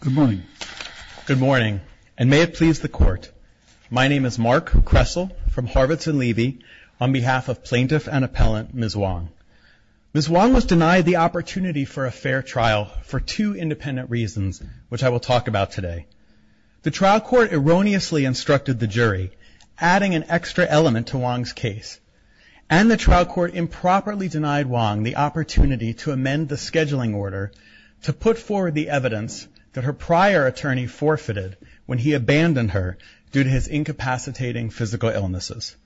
Good morning. Good morning, and may it please the court. My name is Mark Kressel from Harvards and Levy, on behalf of plaintiff and appellant Ms. Hoang. Ms. Hoang was denied the opportunity for a fair trial for two independent reasons, which I will talk about today. The trial court erroneously instructed the jury, adding an extra element to Hoang's case, and the trial court improperly denied Hoang the opportunity to amend the scheduling order to put forward the evidence that her prior attorney forfeited when he abandoned her due to his incapacitating physical illnesses.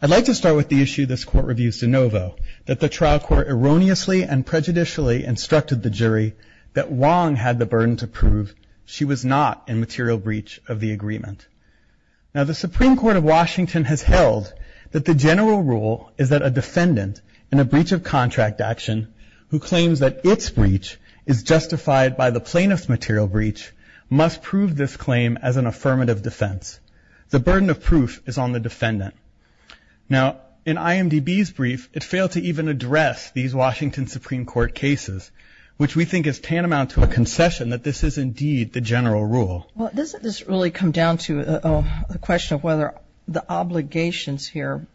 I'd like to start with the issue this court reviews de novo, that the trial court erroneously and prejudicially instructed the jury that Hoang had the burden to prove she was not in material breach of the agreement. Now, the Supreme Court of Washington has held that the general rule is that a defendant in a breach of contract action who claims that its breach is justified by the plaintiff's material breach must prove this claim as an affirmative defense. The burden of proof is on the defendant. Now, in IMDb's brief, it failed to even address these Washington Supreme Court cases, which we think is tantamount to a concession that this is indeed the general rule. Well, doesn't this really come down to a question of whether the obligations here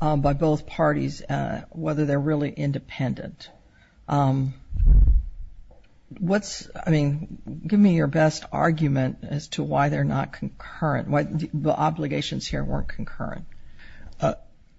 by both parties, whether they're really independent? What's, I mean, give me your best argument as to why they're not concurrent, why the obligations here weren't concurrent.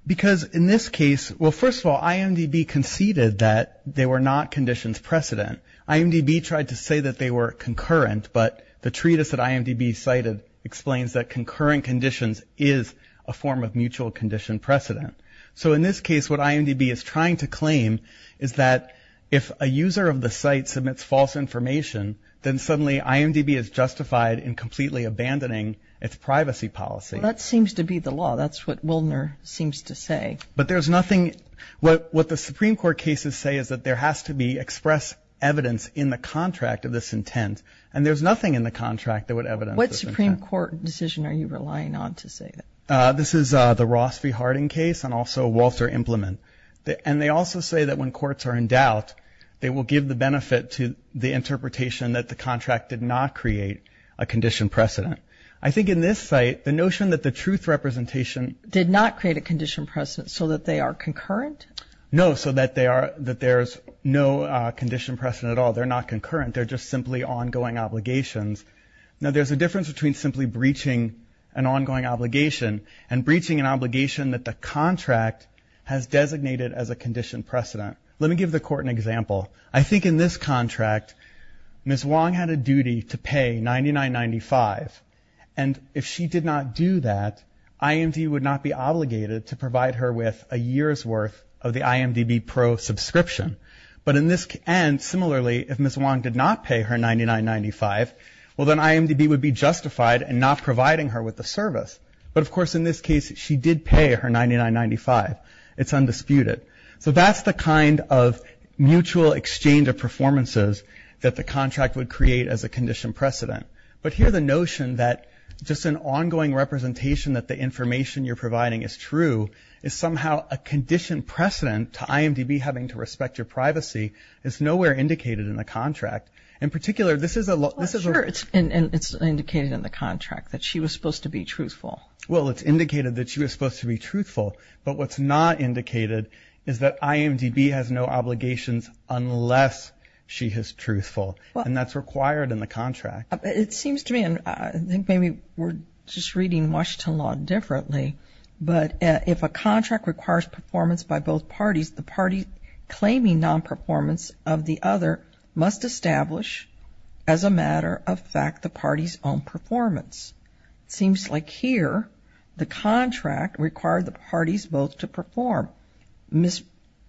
Because in this case, well, first of all, IMDb conceded that they were not conditions precedent. IMDb tried to say that they were concurrent, but the treatise that IMDb cited explains that concurrent conditions is a form of mutual condition precedent. So in this case, what IMDb is trying to claim is that if a user of the site submits false information, then suddenly IMDb is justified in completely abandoning its privacy policy. Well, that seems to be the law. That's what Wildner seems to say. But there's nothing. What the Supreme Court cases say is that there has to be express evidence in the contract of this intent. And there's nothing in the contract that would evidence this intent. What Supreme Court decision are you relying on to say that? This is the Ross v. Harding case and also Walter Implement. And they also say that when courts are in doubt, they will give the benefit to the interpretation that the contract did not create a condition precedent. I think in this site, the notion that the truth representation did not create a condition precedent so that they are concurrent? No, so that there's no condition precedent at all. They're not concurrent. They're just simply ongoing obligations. Now, there's a difference between simply breaching an ongoing obligation and breaching an obligation that the contract has designated as a condition precedent. Let me give the court an example. I think in this contract, Ms. Wong had a duty to pay $99.95. And if she did not do that, IMD would not be obligated to provide her with a year's worth of the IMDb Pro subscription. And similarly, if Ms. Wong did not pay her $99.95, well, then IMDb would be justified in not providing her with the service. But, of course, in this case, she did pay her $99.95. It's undisputed. So that's the kind of mutual exchange of performances that the contract would create as a condition precedent. But here the notion that just an ongoing representation that the information you're providing is true is somehow a condition precedent to IMDb having to respect your privacy is nowhere indicated in the contract. In particular, this is a lot of this is a... Well, sure, it's indicated in the contract that she was supposed to be truthful. Well, it's indicated that she was supposed to be truthful. But what's not indicated is that IMDb has no obligations unless she is truthful. And that's required in the contract. It seems to me, and I think maybe we're just reading Washington law differently, but if a contract requires performance by both parties, the party claiming nonperformance of the other must establish as a matter of fact the party's own performance. It seems like here the contract required the parties both to perform. It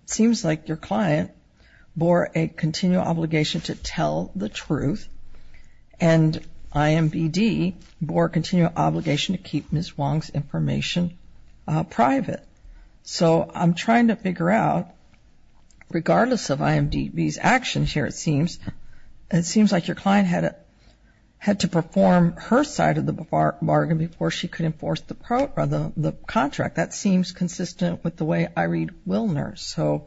seems like your client bore a continual obligation to tell the truth and IMDb bore a continual obligation to keep Ms. Wong's information private. So I'm trying to figure out, regardless of IMDb's actions here it seems, it seems like your client had to perform her side of the bargain before she could enforce the contract. That seems consistent with the way I read Willner's. So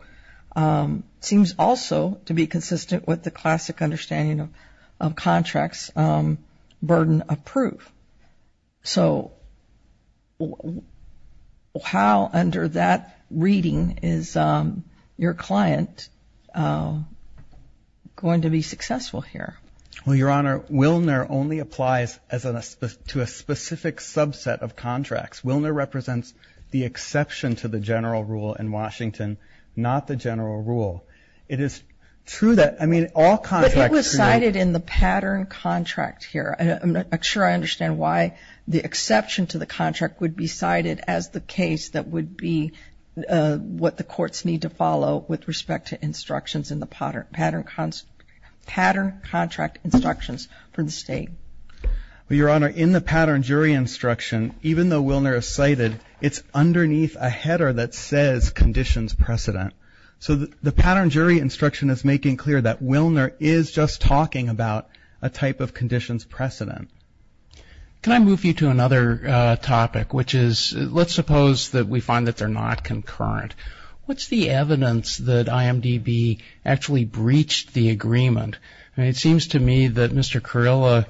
it seems also to be consistent with the classic understanding of contracts, burden of proof. So how under that reading is your client going to be successful here? Well, Your Honor, Willner only applies to a specific subset of contracts. Willner represents the exception to the general rule in Washington, not the general rule. It is true that, I mean, all contracts. But it was cited in the pattern contract here. I'm not sure I understand why the exception to the contract would be cited as the case that would be what the courts need to follow with respect to instructions in the pattern contract instructions for the state. Well, Your Honor, in the pattern jury instruction, even though Willner is cited, it's underneath a header that says conditions precedent. So the pattern jury instruction is making clear that Willner is just talking about a type of conditions precedent. Can I move you to another topic, which is let's suppose that we find that they're not concurrent. What's the evidence that IMDb actually breached the agreement? It seems to me that Mr. Carrillo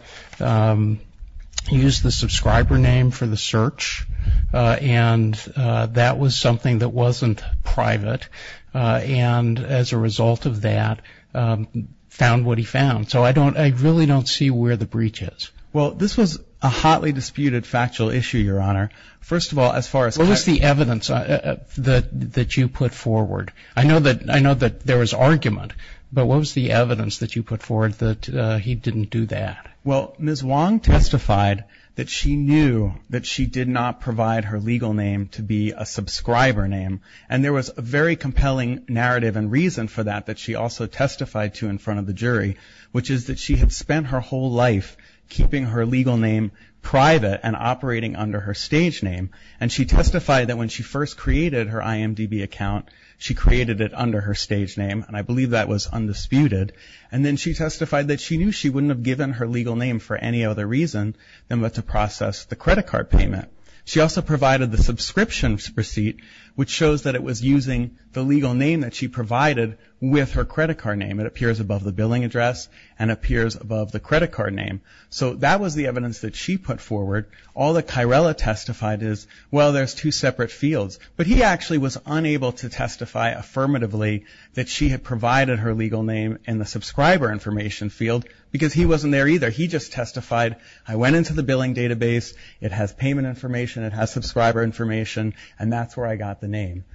used the subscriber name for the search, and that was something that wasn't private. And as a result of that, found what he found. So I really don't see where the breach is. Well, this was a hotly disputed factual issue, Your Honor. First of all, as far as- What was the evidence that you put forward? I know that there was argument, but what was the evidence that you put forward that he didn't do that? Well, Ms. Wong testified that she knew that she did not provide her legal name to be a subscriber name, and there was a very compelling narrative and reason for that that she also testified to in front of the jury, which is that she had spent her whole life keeping her legal name private and operating under her stage name. And she testified that when she first created her IMDb account, she created it under her stage name, and I believe that was undisputed. And then she testified that she knew she wouldn't have given her legal name for any other reason than to process the credit card payment. She also provided the subscription receipt, which shows that it was using the legal name that she provided with her credit card name. It appears above the billing address and appears above the credit card name. So that was the evidence that she put forward. All that Kyrella testified is, well, there's two separate fields. But he actually was unable to testify affirmatively that she had provided her legal name in the subscriber information field because he wasn't there either. He just testified, I went into the billing database. It has payment information. It has subscriber information. And that's where I got the name.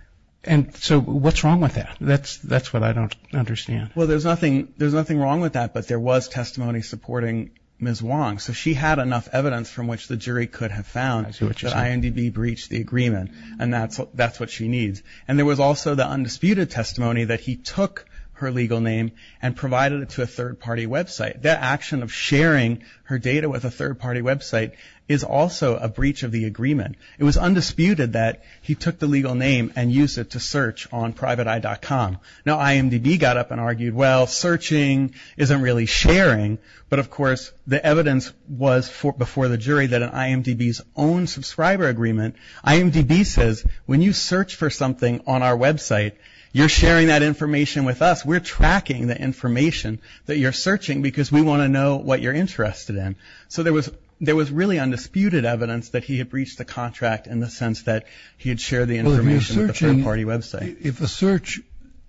And so what's wrong with that? That's what I don't understand. Well, there's nothing wrong with that, but there was testimony supporting Ms. Wong. So she had enough evidence from which the jury could have found that IMDb breached the agreement, and that's what she needs. And there was also the undisputed testimony that he took her legal name and provided it to a third-party website. That action of sharing her data with a third-party website is also a breach of the agreement. It was undisputed that he took the legal name and used it to search on PrivateEye.com. Now IMDb got up and argued, well, searching isn't really sharing. But, of course, the evidence was before the jury that in IMDb's own subscriber agreement, IMDb says, when you search for something on our website, you're sharing that information with us. We're tracking the information that you're searching because we want to know what you're interested in. So there was really undisputed evidence that he had breached the contract in the sense that he had shared the information with a third-party website. Well, if a search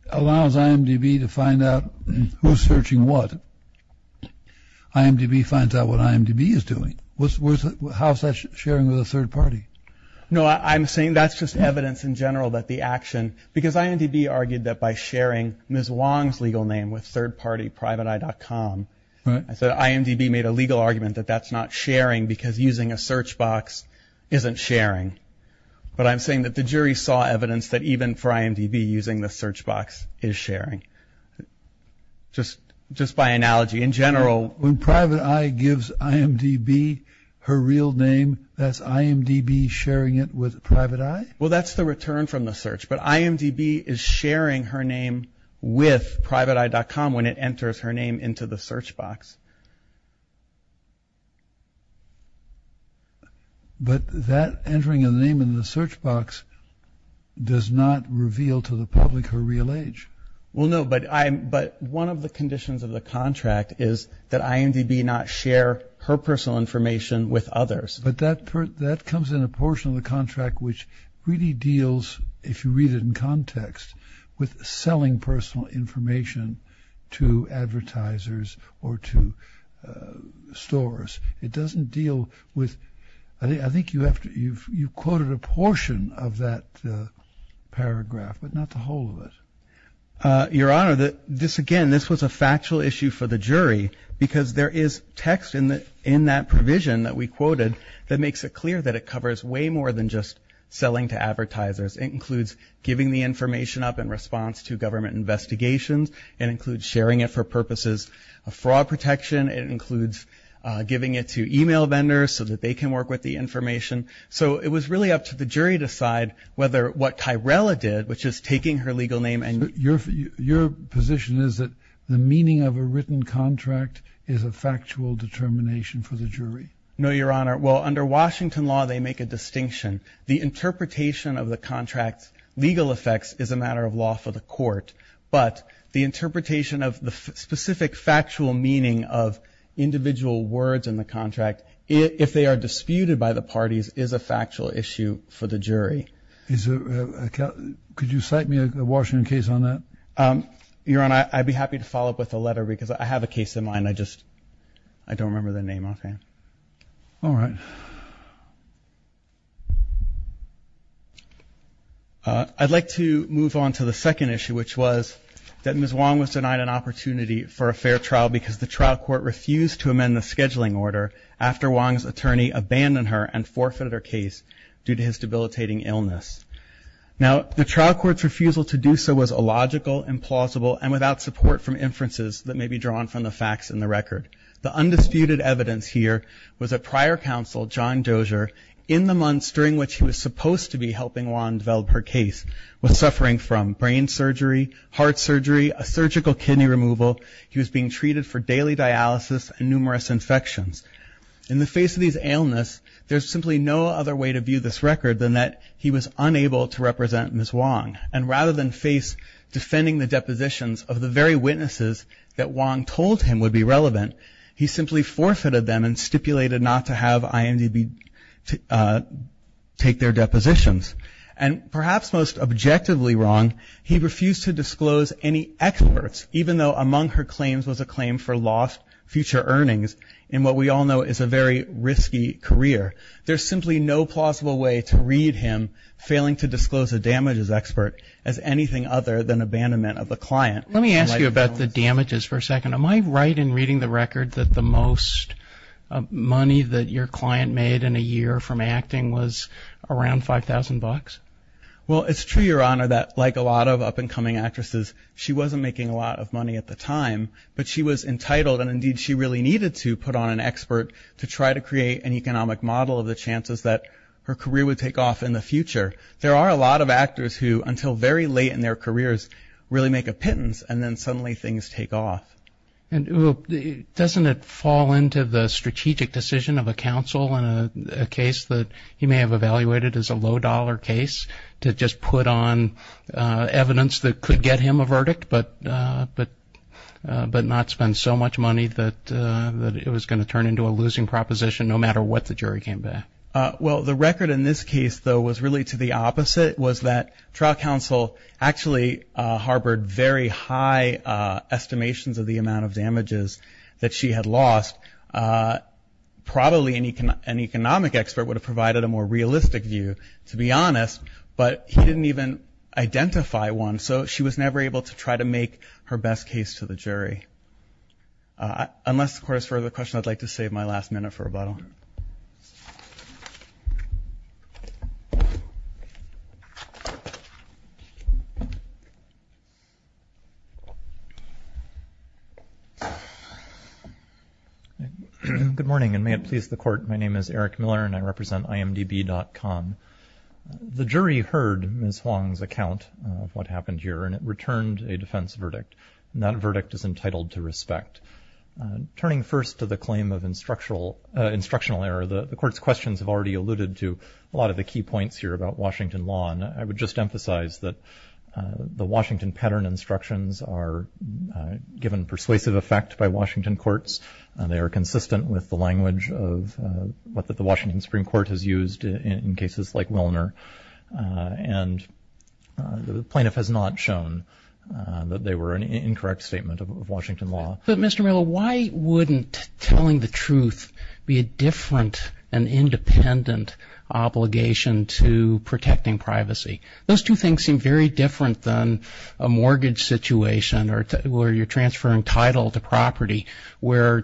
allows IMDb to find out who's searching what, IMDb finds out what IMDb is doing. How is that sharing with a third-party? No, I'm saying that's just evidence in general that the action, with third-party PrivateEye.com. I said IMDb made a legal argument that that's not sharing because using a search box isn't sharing. But I'm saying that the jury saw evidence that even for IMDb using the search box is sharing. Just by analogy, in general. When PrivateEye gives IMDb her real name, that's IMDb sharing it with PrivateEye? Well, that's the return from the search. But IMDb is sharing her name with PrivateEye.com when it enters her name into the search box. But that entering a name in the search box does not reveal to the public her real age. Well, no, but one of the conditions of the contract is that IMDb not share her personal information with others. But that comes in a portion of the contract which really deals, if you read it in context, with selling personal information to advertisers or to stores. It doesn't deal with – I think you quoted a portion of that paragraph, but not the whole of it. Your Honor, again, this was a factual issue for the jury because there is text in that provision that we quoted that makes it clear that it covers way more than just selling to advertisers. It includes giving the information up in response to government investigations. It includes sharing it for purposes of fraud protection. It includes giving it to e-mail vendors so that they can work with the information. So it was really up to the jury to decide whether what Tyrella did, which is taking her legal name and – is a factual determination for the jury. No, Your Honor. Well, under Washington law, they make a distinction. The interpretation of the contract's legal effects is a matter of law for the court. But the interpretation of the specific factual meaning of individual words in the contract, if they are disputed by the parties, is a factual issue for the jury. Could you cite me a Washington case on that? Your Honor, I'd be happy to follow up with a letter because I have a case in mind. I just don't remember the name offhand. All right. I'd like to move on to the second issue, which was that Ms. Wong was denied an opportunity for a fair trial because the trial court refused to amend the scheduling order after Wong's attorney abandoned her and forfeited her case due to his debilitating illness. Now, the trial court's refusal to do so was illogical, implausible, and without support from inferences that may be drawn from the facts in the record. The undisputed evidence here was that prior counsel, John Dozier, in the months during which he was supposed to be helping Wong develop her case, was suffering from brain surgery, heart surgery, a surgical kidney removal. He was being treated for daily dialysis and numerous infections. In the face of these illness, there's simply no other way to view this record than that he was unable to represent Ms. Wong. And rather than face defending the depositions of the very witnesses that Wong told him would be relevant, he simply forfeited them and stipulated not to have IMDB take their depositions. And perhaps most objectively wrong, he refused to disclose any experts, even though among her claims was a claim for lost future earnings in what we all know is a very risky career. There's simply no plausible way to read him failing to disclose a damages expert as anything other than abandonment of a client. Let me ask you about the damages for a second. Am I right in reading the record that the most money that your client made in a year from acting was around $5,000? Well, it's true, Your Honor, that like a lot of up-and-coming actresses, she wasn't making a lot of money at the time, but she was entitled, and indeed she really needed to put on an expert to try to create an economic model of the chances that her career would take off in the future. There are a lot of actors who, until very late in their careers, really make a pittance, and then suddenly things take off. And doesn't it fall into the strategic decision of a counsel in a case that he may have evaluated as a low-dollar case to just put on evidence that could get him a verdict but not spend so much money that it was going to turn into a losing proposition no matter what the jury came back? Well, the record in this case, though, was really to the opposite, was that trial counsel actually harbored very high estimations of the amount of damages that she had lost. Probably an economic expert would have provided a more realistic view, to be honest, but he didn't even identify one, so she was never able to try to make her best case to the jury. Unless the Court has further questions, I'd like to save my last minute for rebuttal. Good morning, and may it please the Court. My name is Eric Miller, and I represent imdb.com. The jury heard Ms. Huang's account of what happened here, and it returned a defense verdict, and that verdict is entitled to respect. Turning first to the claim of instructional error, the Court's questions have already alluded to a lot of the key points here about Washington law, and I would just emphasize that the Washington pattern instructions are given persuasive effect by Washington courts. They are consistent with the language of what the Washington Supreme Court has used in cases like Willner, and the plaintiff has not shown that they were an incorrect statement of Washington law. But, Mr. Miller, why wouldn't telling the truth be a different and independent obligation to protecting privacy? Those two things seem very different than a mortgage situation where you're transferring title to property, where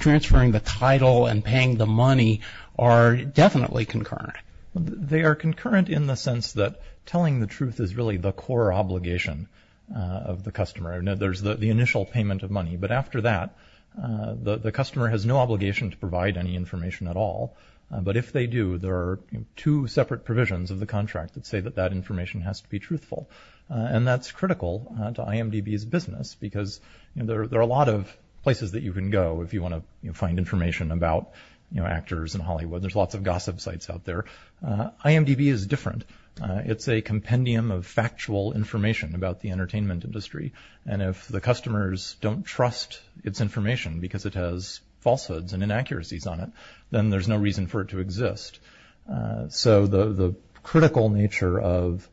transferring the title and paying the money are definitely concurrent. They are concurrent in the sense that telling the truth is really the core obligation of the customer. There's the initial payment of money, but after that, the customer has no obligation to provide any information at all. But if they do, there are two separate provisions of the contract that say that that information has to be truthful, and that's critical to IMDb's business because there are a lot of places that you can go if you want to find information about actors in Hollywood. There's lots of gossip sites out there. IMDb is different. It's a compendium of factual information about the entertainment industry, and if the customers don't trust its information because it has falsehoods and inaccuracies on it, then there's no reason for it to exist. So the critical nature of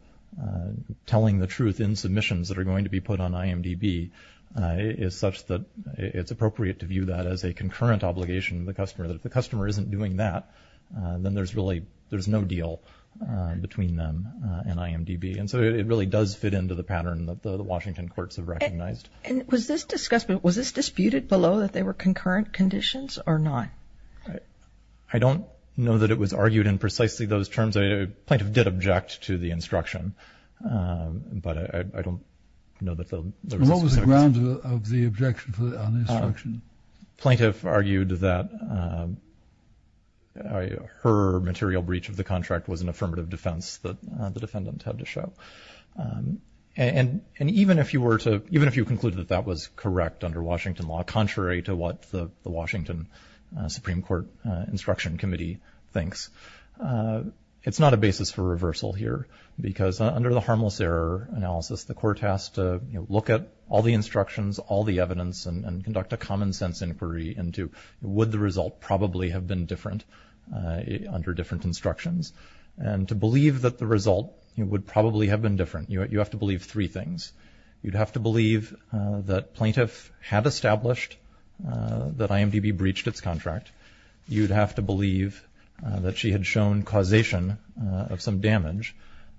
telling the truth in submissions that are going to be put on IMDb is such that it's appropriate to view that as a concurrent obligation of the customer, that if the customer isn't doing that, then there's really no deal between them and IMDb. And so it really does fit into the pattern that the Washington courts have recognized. And was this discussed, was this disputed below that they were concurrent conditions or not? I don't know that it was argued in precisely those terms. A plaintiff did object to the instruction, but I don't know that there was a discussion. What was the ground of the objection on the instruction? A plaintiff argued that her material breach of the contract was an affirmative defense that the defendant had to show. And even if you concluded that that was correct under Washington law, contrary to what the Washington Supreme Court Instruction Committee thinks, it's not a basis for reversal here because under the harmless error analysis, the court has to look at all the instructions, all the evidence, and conduct a common sense inquiry into would the result probably have been different under different instructions. And to believe that the result would probably have been different, you have to believe three things. You'd have to believe that plaintiff had established that IMDb breached its contract. You'd have to believe that she had shown causation of some damage.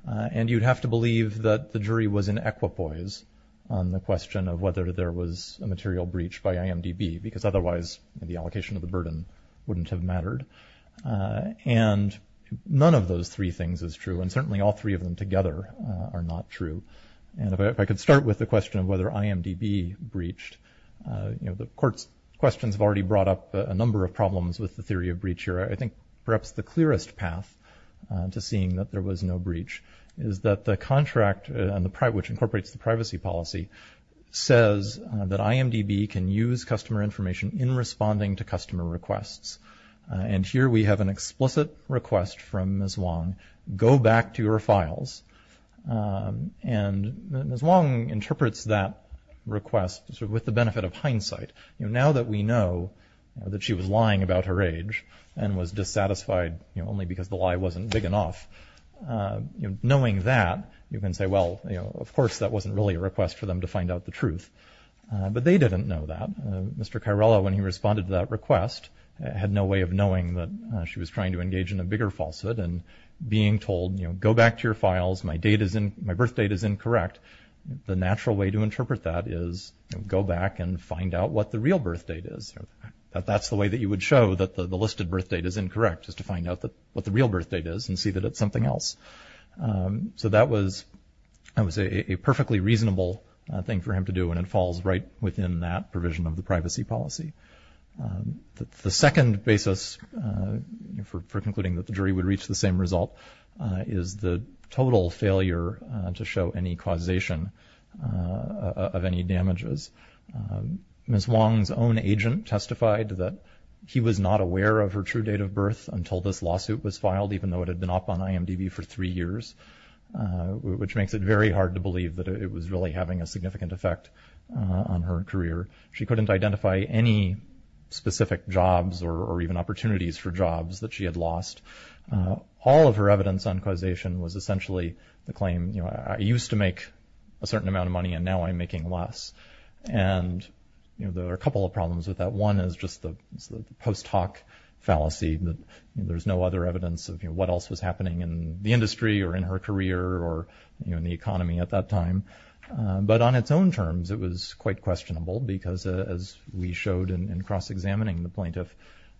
And you'd have to believe that the jury was in equipoise on the question of whether there was a material breach by IMDb because otherwise the allocation of the burden wouldn't have mattered. And none of those three things is true, and certainly all three of them together are not true. And if I could start with the question of whether IMDb breached, the court's questions have already brought up a number of problems with the theory of breach here. I think perhaps the clearest path to seeing that there was no breach is that the contract, which incorporates the privacy policy, says that IMDb can use customer information in responding to customer requests. And here we have an explicit request from Ms. Wong, go back to your files. And Ms. Wong interprets that request with the benefit of hindsight. Now that we know that she was lying about her age and was dissatisfied only because the lie wasn't big enough, knowing that, you can say, well, of course that wasn't really a request for them to find out the truth. But they didn't know that. Mr. Cairola, when he responded to that request, had no way of knowing that she was trying to engage in a bigger falsehood. And being told, you know, go back to your files, my birth date is incorrect, the natural way to interpret that is go back and find out what the real birth date is. That's the way that you would show that the listed birth date is incorrect, is to find out what the real birth date is and see that it's something else. So that was a perfectly reasonable thing for him to do, and it falls right within that provision of the privacy policy. The second basis for concluding that the jury would reach the same result is the total failure to show any causation of any damages. Ms. Wong's own agent testified that he was not aware of her true date of birth until this lawsuit was filed, even though it had been up on IMDb for three years, which makes it very hard to believe that it was really having a significant effect on her career. She couldn't identify any specific jobs or even opportunities for jobs that she had lost. All of her evidence on causation was essentially the claim, you know, I used to make a certain amount of money and now I'm making less. And, you know, there are a couple of problems with that. One is just the post hoc fallacy that there's no other evidence of, you know, what else was happening in the industry or in her career or, you know, in the economy at that time. But on its own terms, it was quite questionable because as we showed in cross-examining the plaintiff,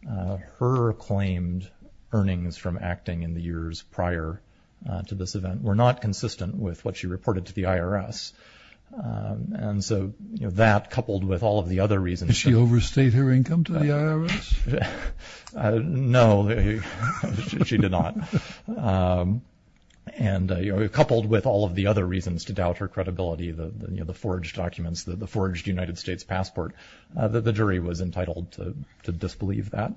her claimed earnings from acting in the years prior to this event were not consistent with what she reported to the IRS. And so, you know, that coupled with all of the other reasons. Did she overstate her income to the IRS? No, she did not. And, you know, coupled with all of the other reasons to doubt her credibility, you know, the forged documents, the forged United States passport, the jury was entitled to disbelieve that.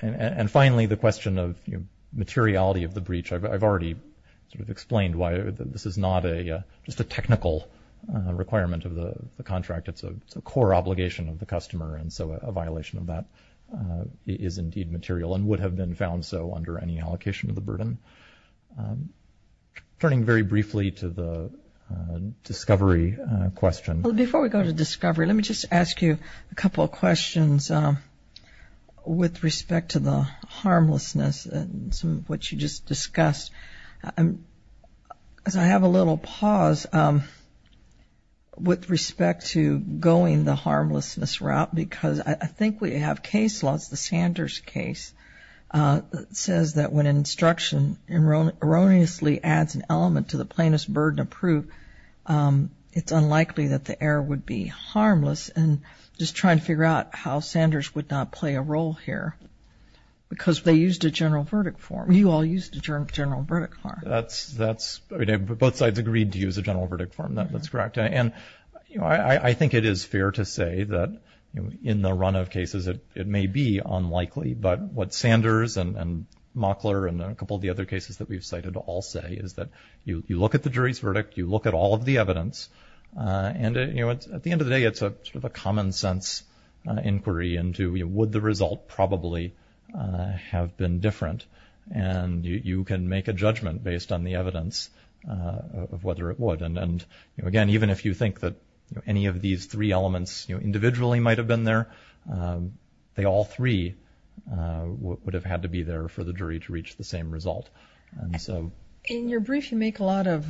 And finally, the question of, you know, materiality of the breach. I've already sort of explained why this is not just a technical requirement of the contract. It's a core obligation of the customer. And so a violation of that is indeed material and would have been found so under any allocation of the burden. Turning very briefly to the discovery question. Before we go to discovery, let me just ask you a couple of questions with respect to the harmlessness and some of what you just discussed. I have a little pause with respect to going the harmlessness route because I think we have case laws. The Sanders case says that when an instruction erroneously adds an element to the plaintiff's burden of proof, it's unlikely that the error would be harmless. And just trying to figure out how Sanders would not play a role here because they used a general verdict form. You all used a general verdict form. Both sides agreed to use a general verdict form. That's correct. And I think it is fair to say that in the run of cases, it may be unlikely. But what Sanders and Mockler and a couple of the other cases that we've cited all say is that you look at the jury's verdict, you look at all of the evidence, and at the end of the day, it's sort of a common sense inquiry into would the result probably have been different. And you can make a judgment based on the evidence of whether it would. And, again, even if you think that any of these three elements individually might have been there, they all three would have had to be there for the jury to reach the same result. In your brief, you make a lot of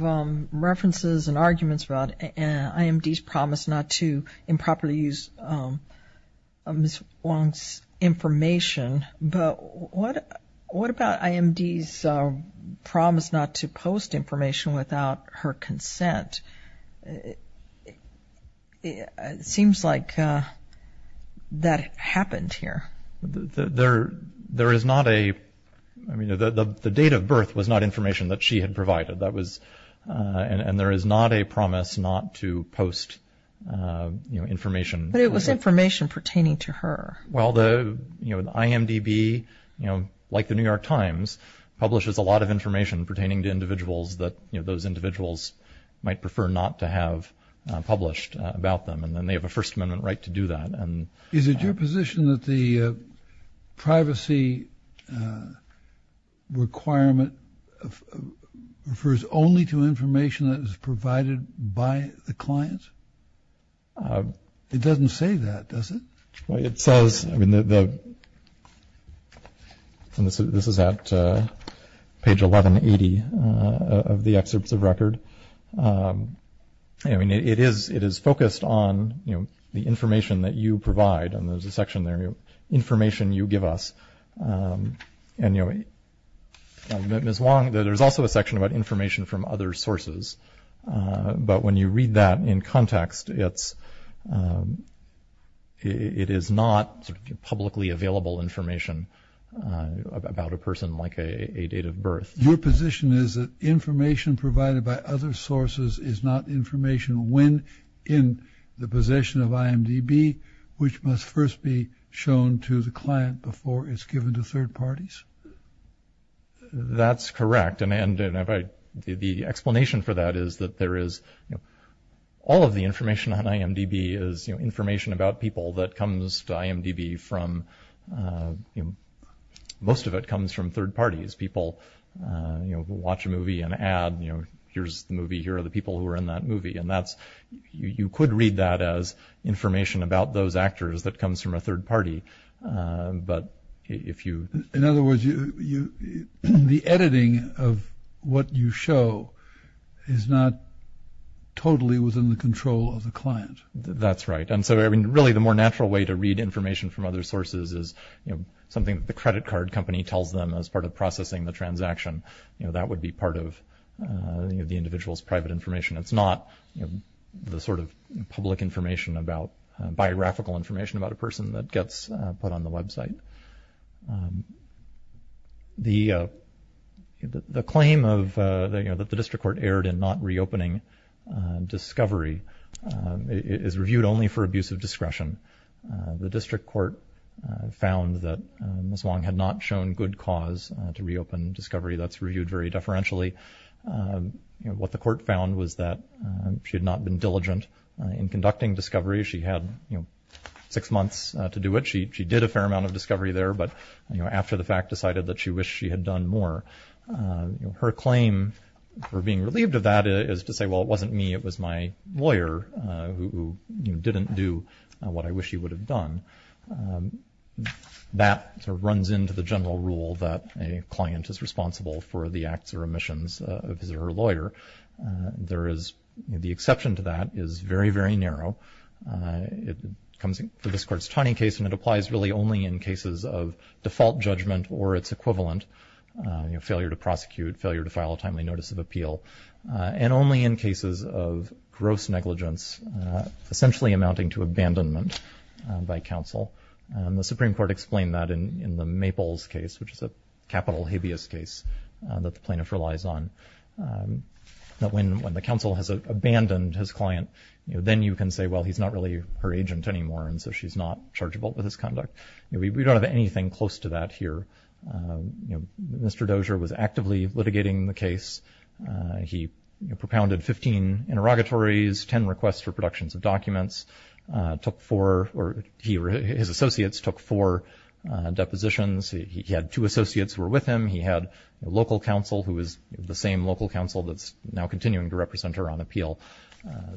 references and arguments about IMD's promise not to improperly use Ms. Wong's information. But what about IMD's promise not to post information without her consent? It seems like that happened here. There is not a – I mean, the date of birth was not information that she had provided. And there is not a promise not to post information. But it was information pertaining to her. Well, the IMDB, like the New York Times, publishes a lot of information pertaining to individuals that those individuals might prefer not to have published about them. And then they have a First Amendment right to do that. Is it your position that the privacy requirement refers only to information that is provided by the client? It doesn't say that, does it? It says – I mean, this is at page 1180 of the excerpts of record. I mean, it is focused on, you know, the information that you provide. And there's a section there, you know, information you give us. And, you know, Ms. Wong, there's also a section about information from other sources. But when you read that in context, it is not publicly available information about a person like a date of birth. Your position is that information provided by other sources is not information when in the possession of IMDB, which must first be shown to the client before it's given to third parties? That's correct. And the explanation for that is that there is – all of the information on IMDB is, you know, information about people that comes to IMDB from – most of it comes from third parties. People, you know, watch a movie and add, you know, here's the movie, here are the people who were in that movie. And that's – you could read that as information about those actors that comes from a third party. But if you – In other words, the editing of what you show is not totally within the control of the client? That's right. And so, I mean, really the more natural way to read information from other sources is, you know, something that the credit card company tells them as part of processing the transaction. You know, that would be part of, you know, the individual's private information. It's not, you know, the sort of public information about – that's put on the website. The claim of, you know, that the district court erred in not reopening Discovery is reviewed only for abuse of discretion. The district court found that Ms. Wong had not shown good cause to reopen Discovery. That's reviewed very deferentially. What the court found was that she had not been diligent in conducting Discovery. She had, you know, six months to do it. She did a fair amount of Discovery there. But, you know, after the fact, decided that she wished she had done more. You know, her claim for being relieved of that is to say, well, it wasn't me. It was my lawyer who didn't do what I wish he would have done. That sort of runs into the general rule that a client is responsible for the acts or omissions of his or her lawyer. There is – the exception to that is very, very narrow. It comes for this court's Taney case, and it applies really only in cases of default judgment or its equivalent, you know, failure to prosecute, failure to file a timely notice of appeal, and only in cases of gross negligence, essentially amounting to abandonment by counsel. The Supreme Court explained that in the Maples case, which is a capital habeas case that the plaintiff relies on, that when the counsel has abandoned his client, then you can say, well, he's not really her agent anymore, and so she's not chargeable with his conduct. We don't have anything close to that here. Mr. Dozier was actively litigating the case. He propounded 15 interrogatories, 10 requests for productions of documents, took four – or his associates took four depositions. He had two associates who were with him. He had a local counsel who was the same local counsel that's now continuing to represent her on appeal.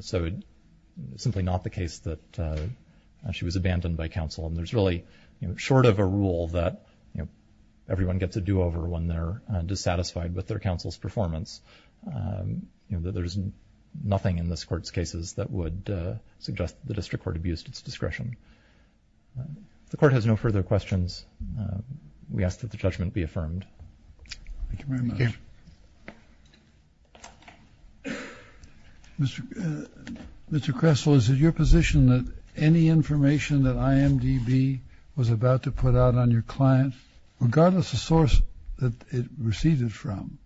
So it's simply not the case that she was abandoned by counsel, and there's really, you know, short of a rule that, you know, everyone gets a do-over when they're dissatisfied with their counsel's performance. You know, there's nothing in this court's cases that would suggest the district court abused its discretion. If the court has no further questions, we ask that the judgment be affirmed. Thank you very much. Thank you. Mr. Kressel, is it your position that any information that IMDb was about to put out on your client, regardless of source that it receded from,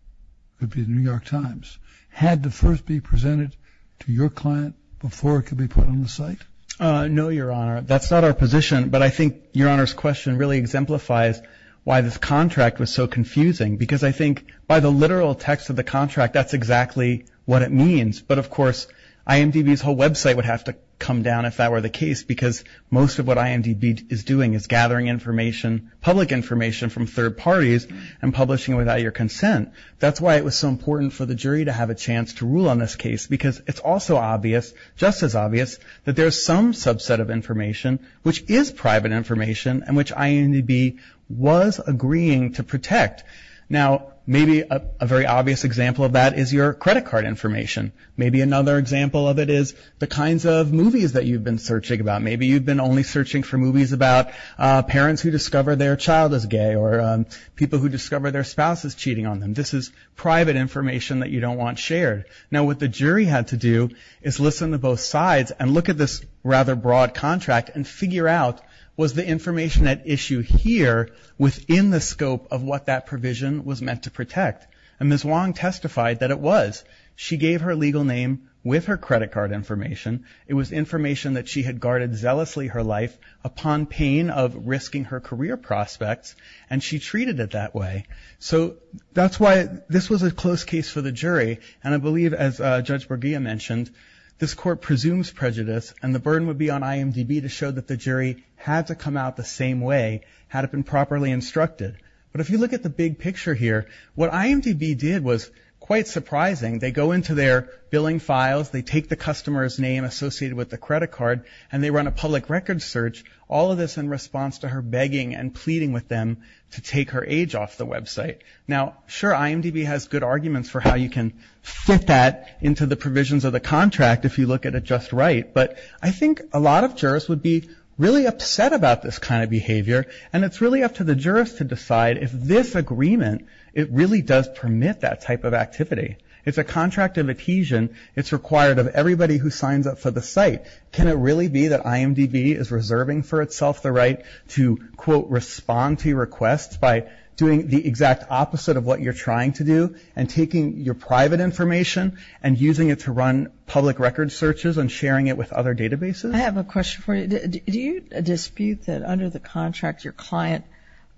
could be the New York Times, had to first be presented to your client before it could be put on the site? No, Your Honor. That's not our position, but I think Your Honor's question really exemplifies why this contract was so confusing, because I think by the literal text of the contract, that's exactly what it means. But, of course, IMDb's whole website would have to come down if that were the case, because most of what IMDb is doing is gathering information, public information from third parties, and publishing it without your consent. That's why it was so important for the jury to have a chance to rule on this case, because it's also obvious, just as obvious, that there's some subset of information which is private information and which IMDb was agreeing to protect. Now, maybe a very obvious example of that is your credit card information. Maybe another example of it is the kinds of movies that you've been searching about. Maybe you've been only searching for movies about parents who discover their child is gay or people who discover their spouse is cheating on them. This is private information that you don't want shared. Now, what the jury had to do is listen to both sides and look at this rather broad contract and figure out was the information at issue here within the scope of what that provision was meant to protect. And Ms. Wong testified that it was. She gave her legal name with her credit card information. It was information that she had guarded zealously her life upon pain of risking her career prospects, and she treated it that way. So that's why this was a close case for the jury, and I believe, as Judge Bergia mentioned, this court presumes prejudice, and the burden would be on IMDb to show that the jury had to come out the same way had it been properly instructed. But if you look at the big picture here, what IMDb did was quite surprising. They go into their billing files. They take the customer's name associated with the credit card, and they run a public records search, all of this in response to her begging and pleading with them to take her age off the website. Now, sure, IMDb has good arguments for how you can fit that into the provisions of the contract if you look at it just right, but I think a lot of jurors would be really upset about this kind of behavior, and it's really up to the jurors to decide if this agreement, it really does permit that type of activity. It's a contract of adhesion. It's required of everybody who signs up for the site. Can it really be that IMDb is reserving for itself the right to, quote, respond to your requests by doing the exact opposite of what you're trying to do and taking your private information and using it to run public records searches and sharing it with other databases? I have a question for you. Do you dispute that under the contract your client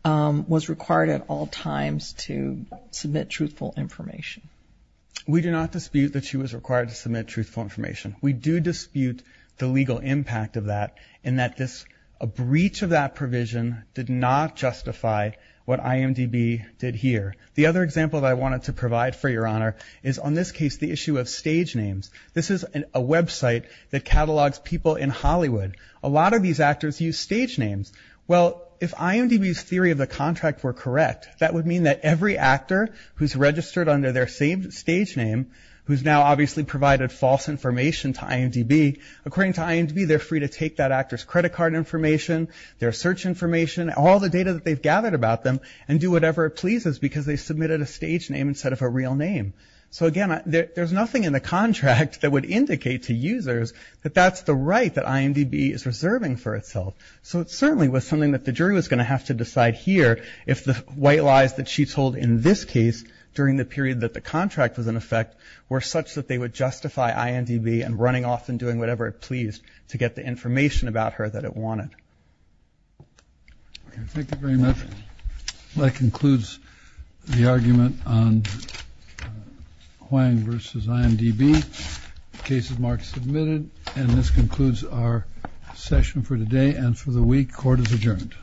was required at all times to submit truthful information? We do not dispute that she was required to submit truthful information. We do dispute the legal impact of that and that a breach of that provision did not justify what IMDb did here. The other example that I wanted to provide for your honor is on this case the issue of stage names. This is a website that catalogs people in Hollywood. A lot of these actors use stage names. Well, if IMDb's theory of the contract were correct, that would mean that every actor who's registered under their same stage name who's now obviously provided false information to IMDb, according to IMDb they're free to take that actor's credit card information, their search information, all the data that they've gathered about them and do whatever it pleases because they submitted a stage name instead of a real name. So again, there's nothing in the contract that would indicate to users that that's the right that IMDb is reserving for itself. So it certainly was something that the jury was going to have to decide here if the white lies that she told in this case during the period that the contract was in effect were such that they would justify IMDb and running off and doing whatever it pleased to get the information about her that it wanted. Thank you very much. That concludes the argument on Huang v. IMDb. The case is marked submitted. And this concludes our session for today and for the week. Court is adjourned.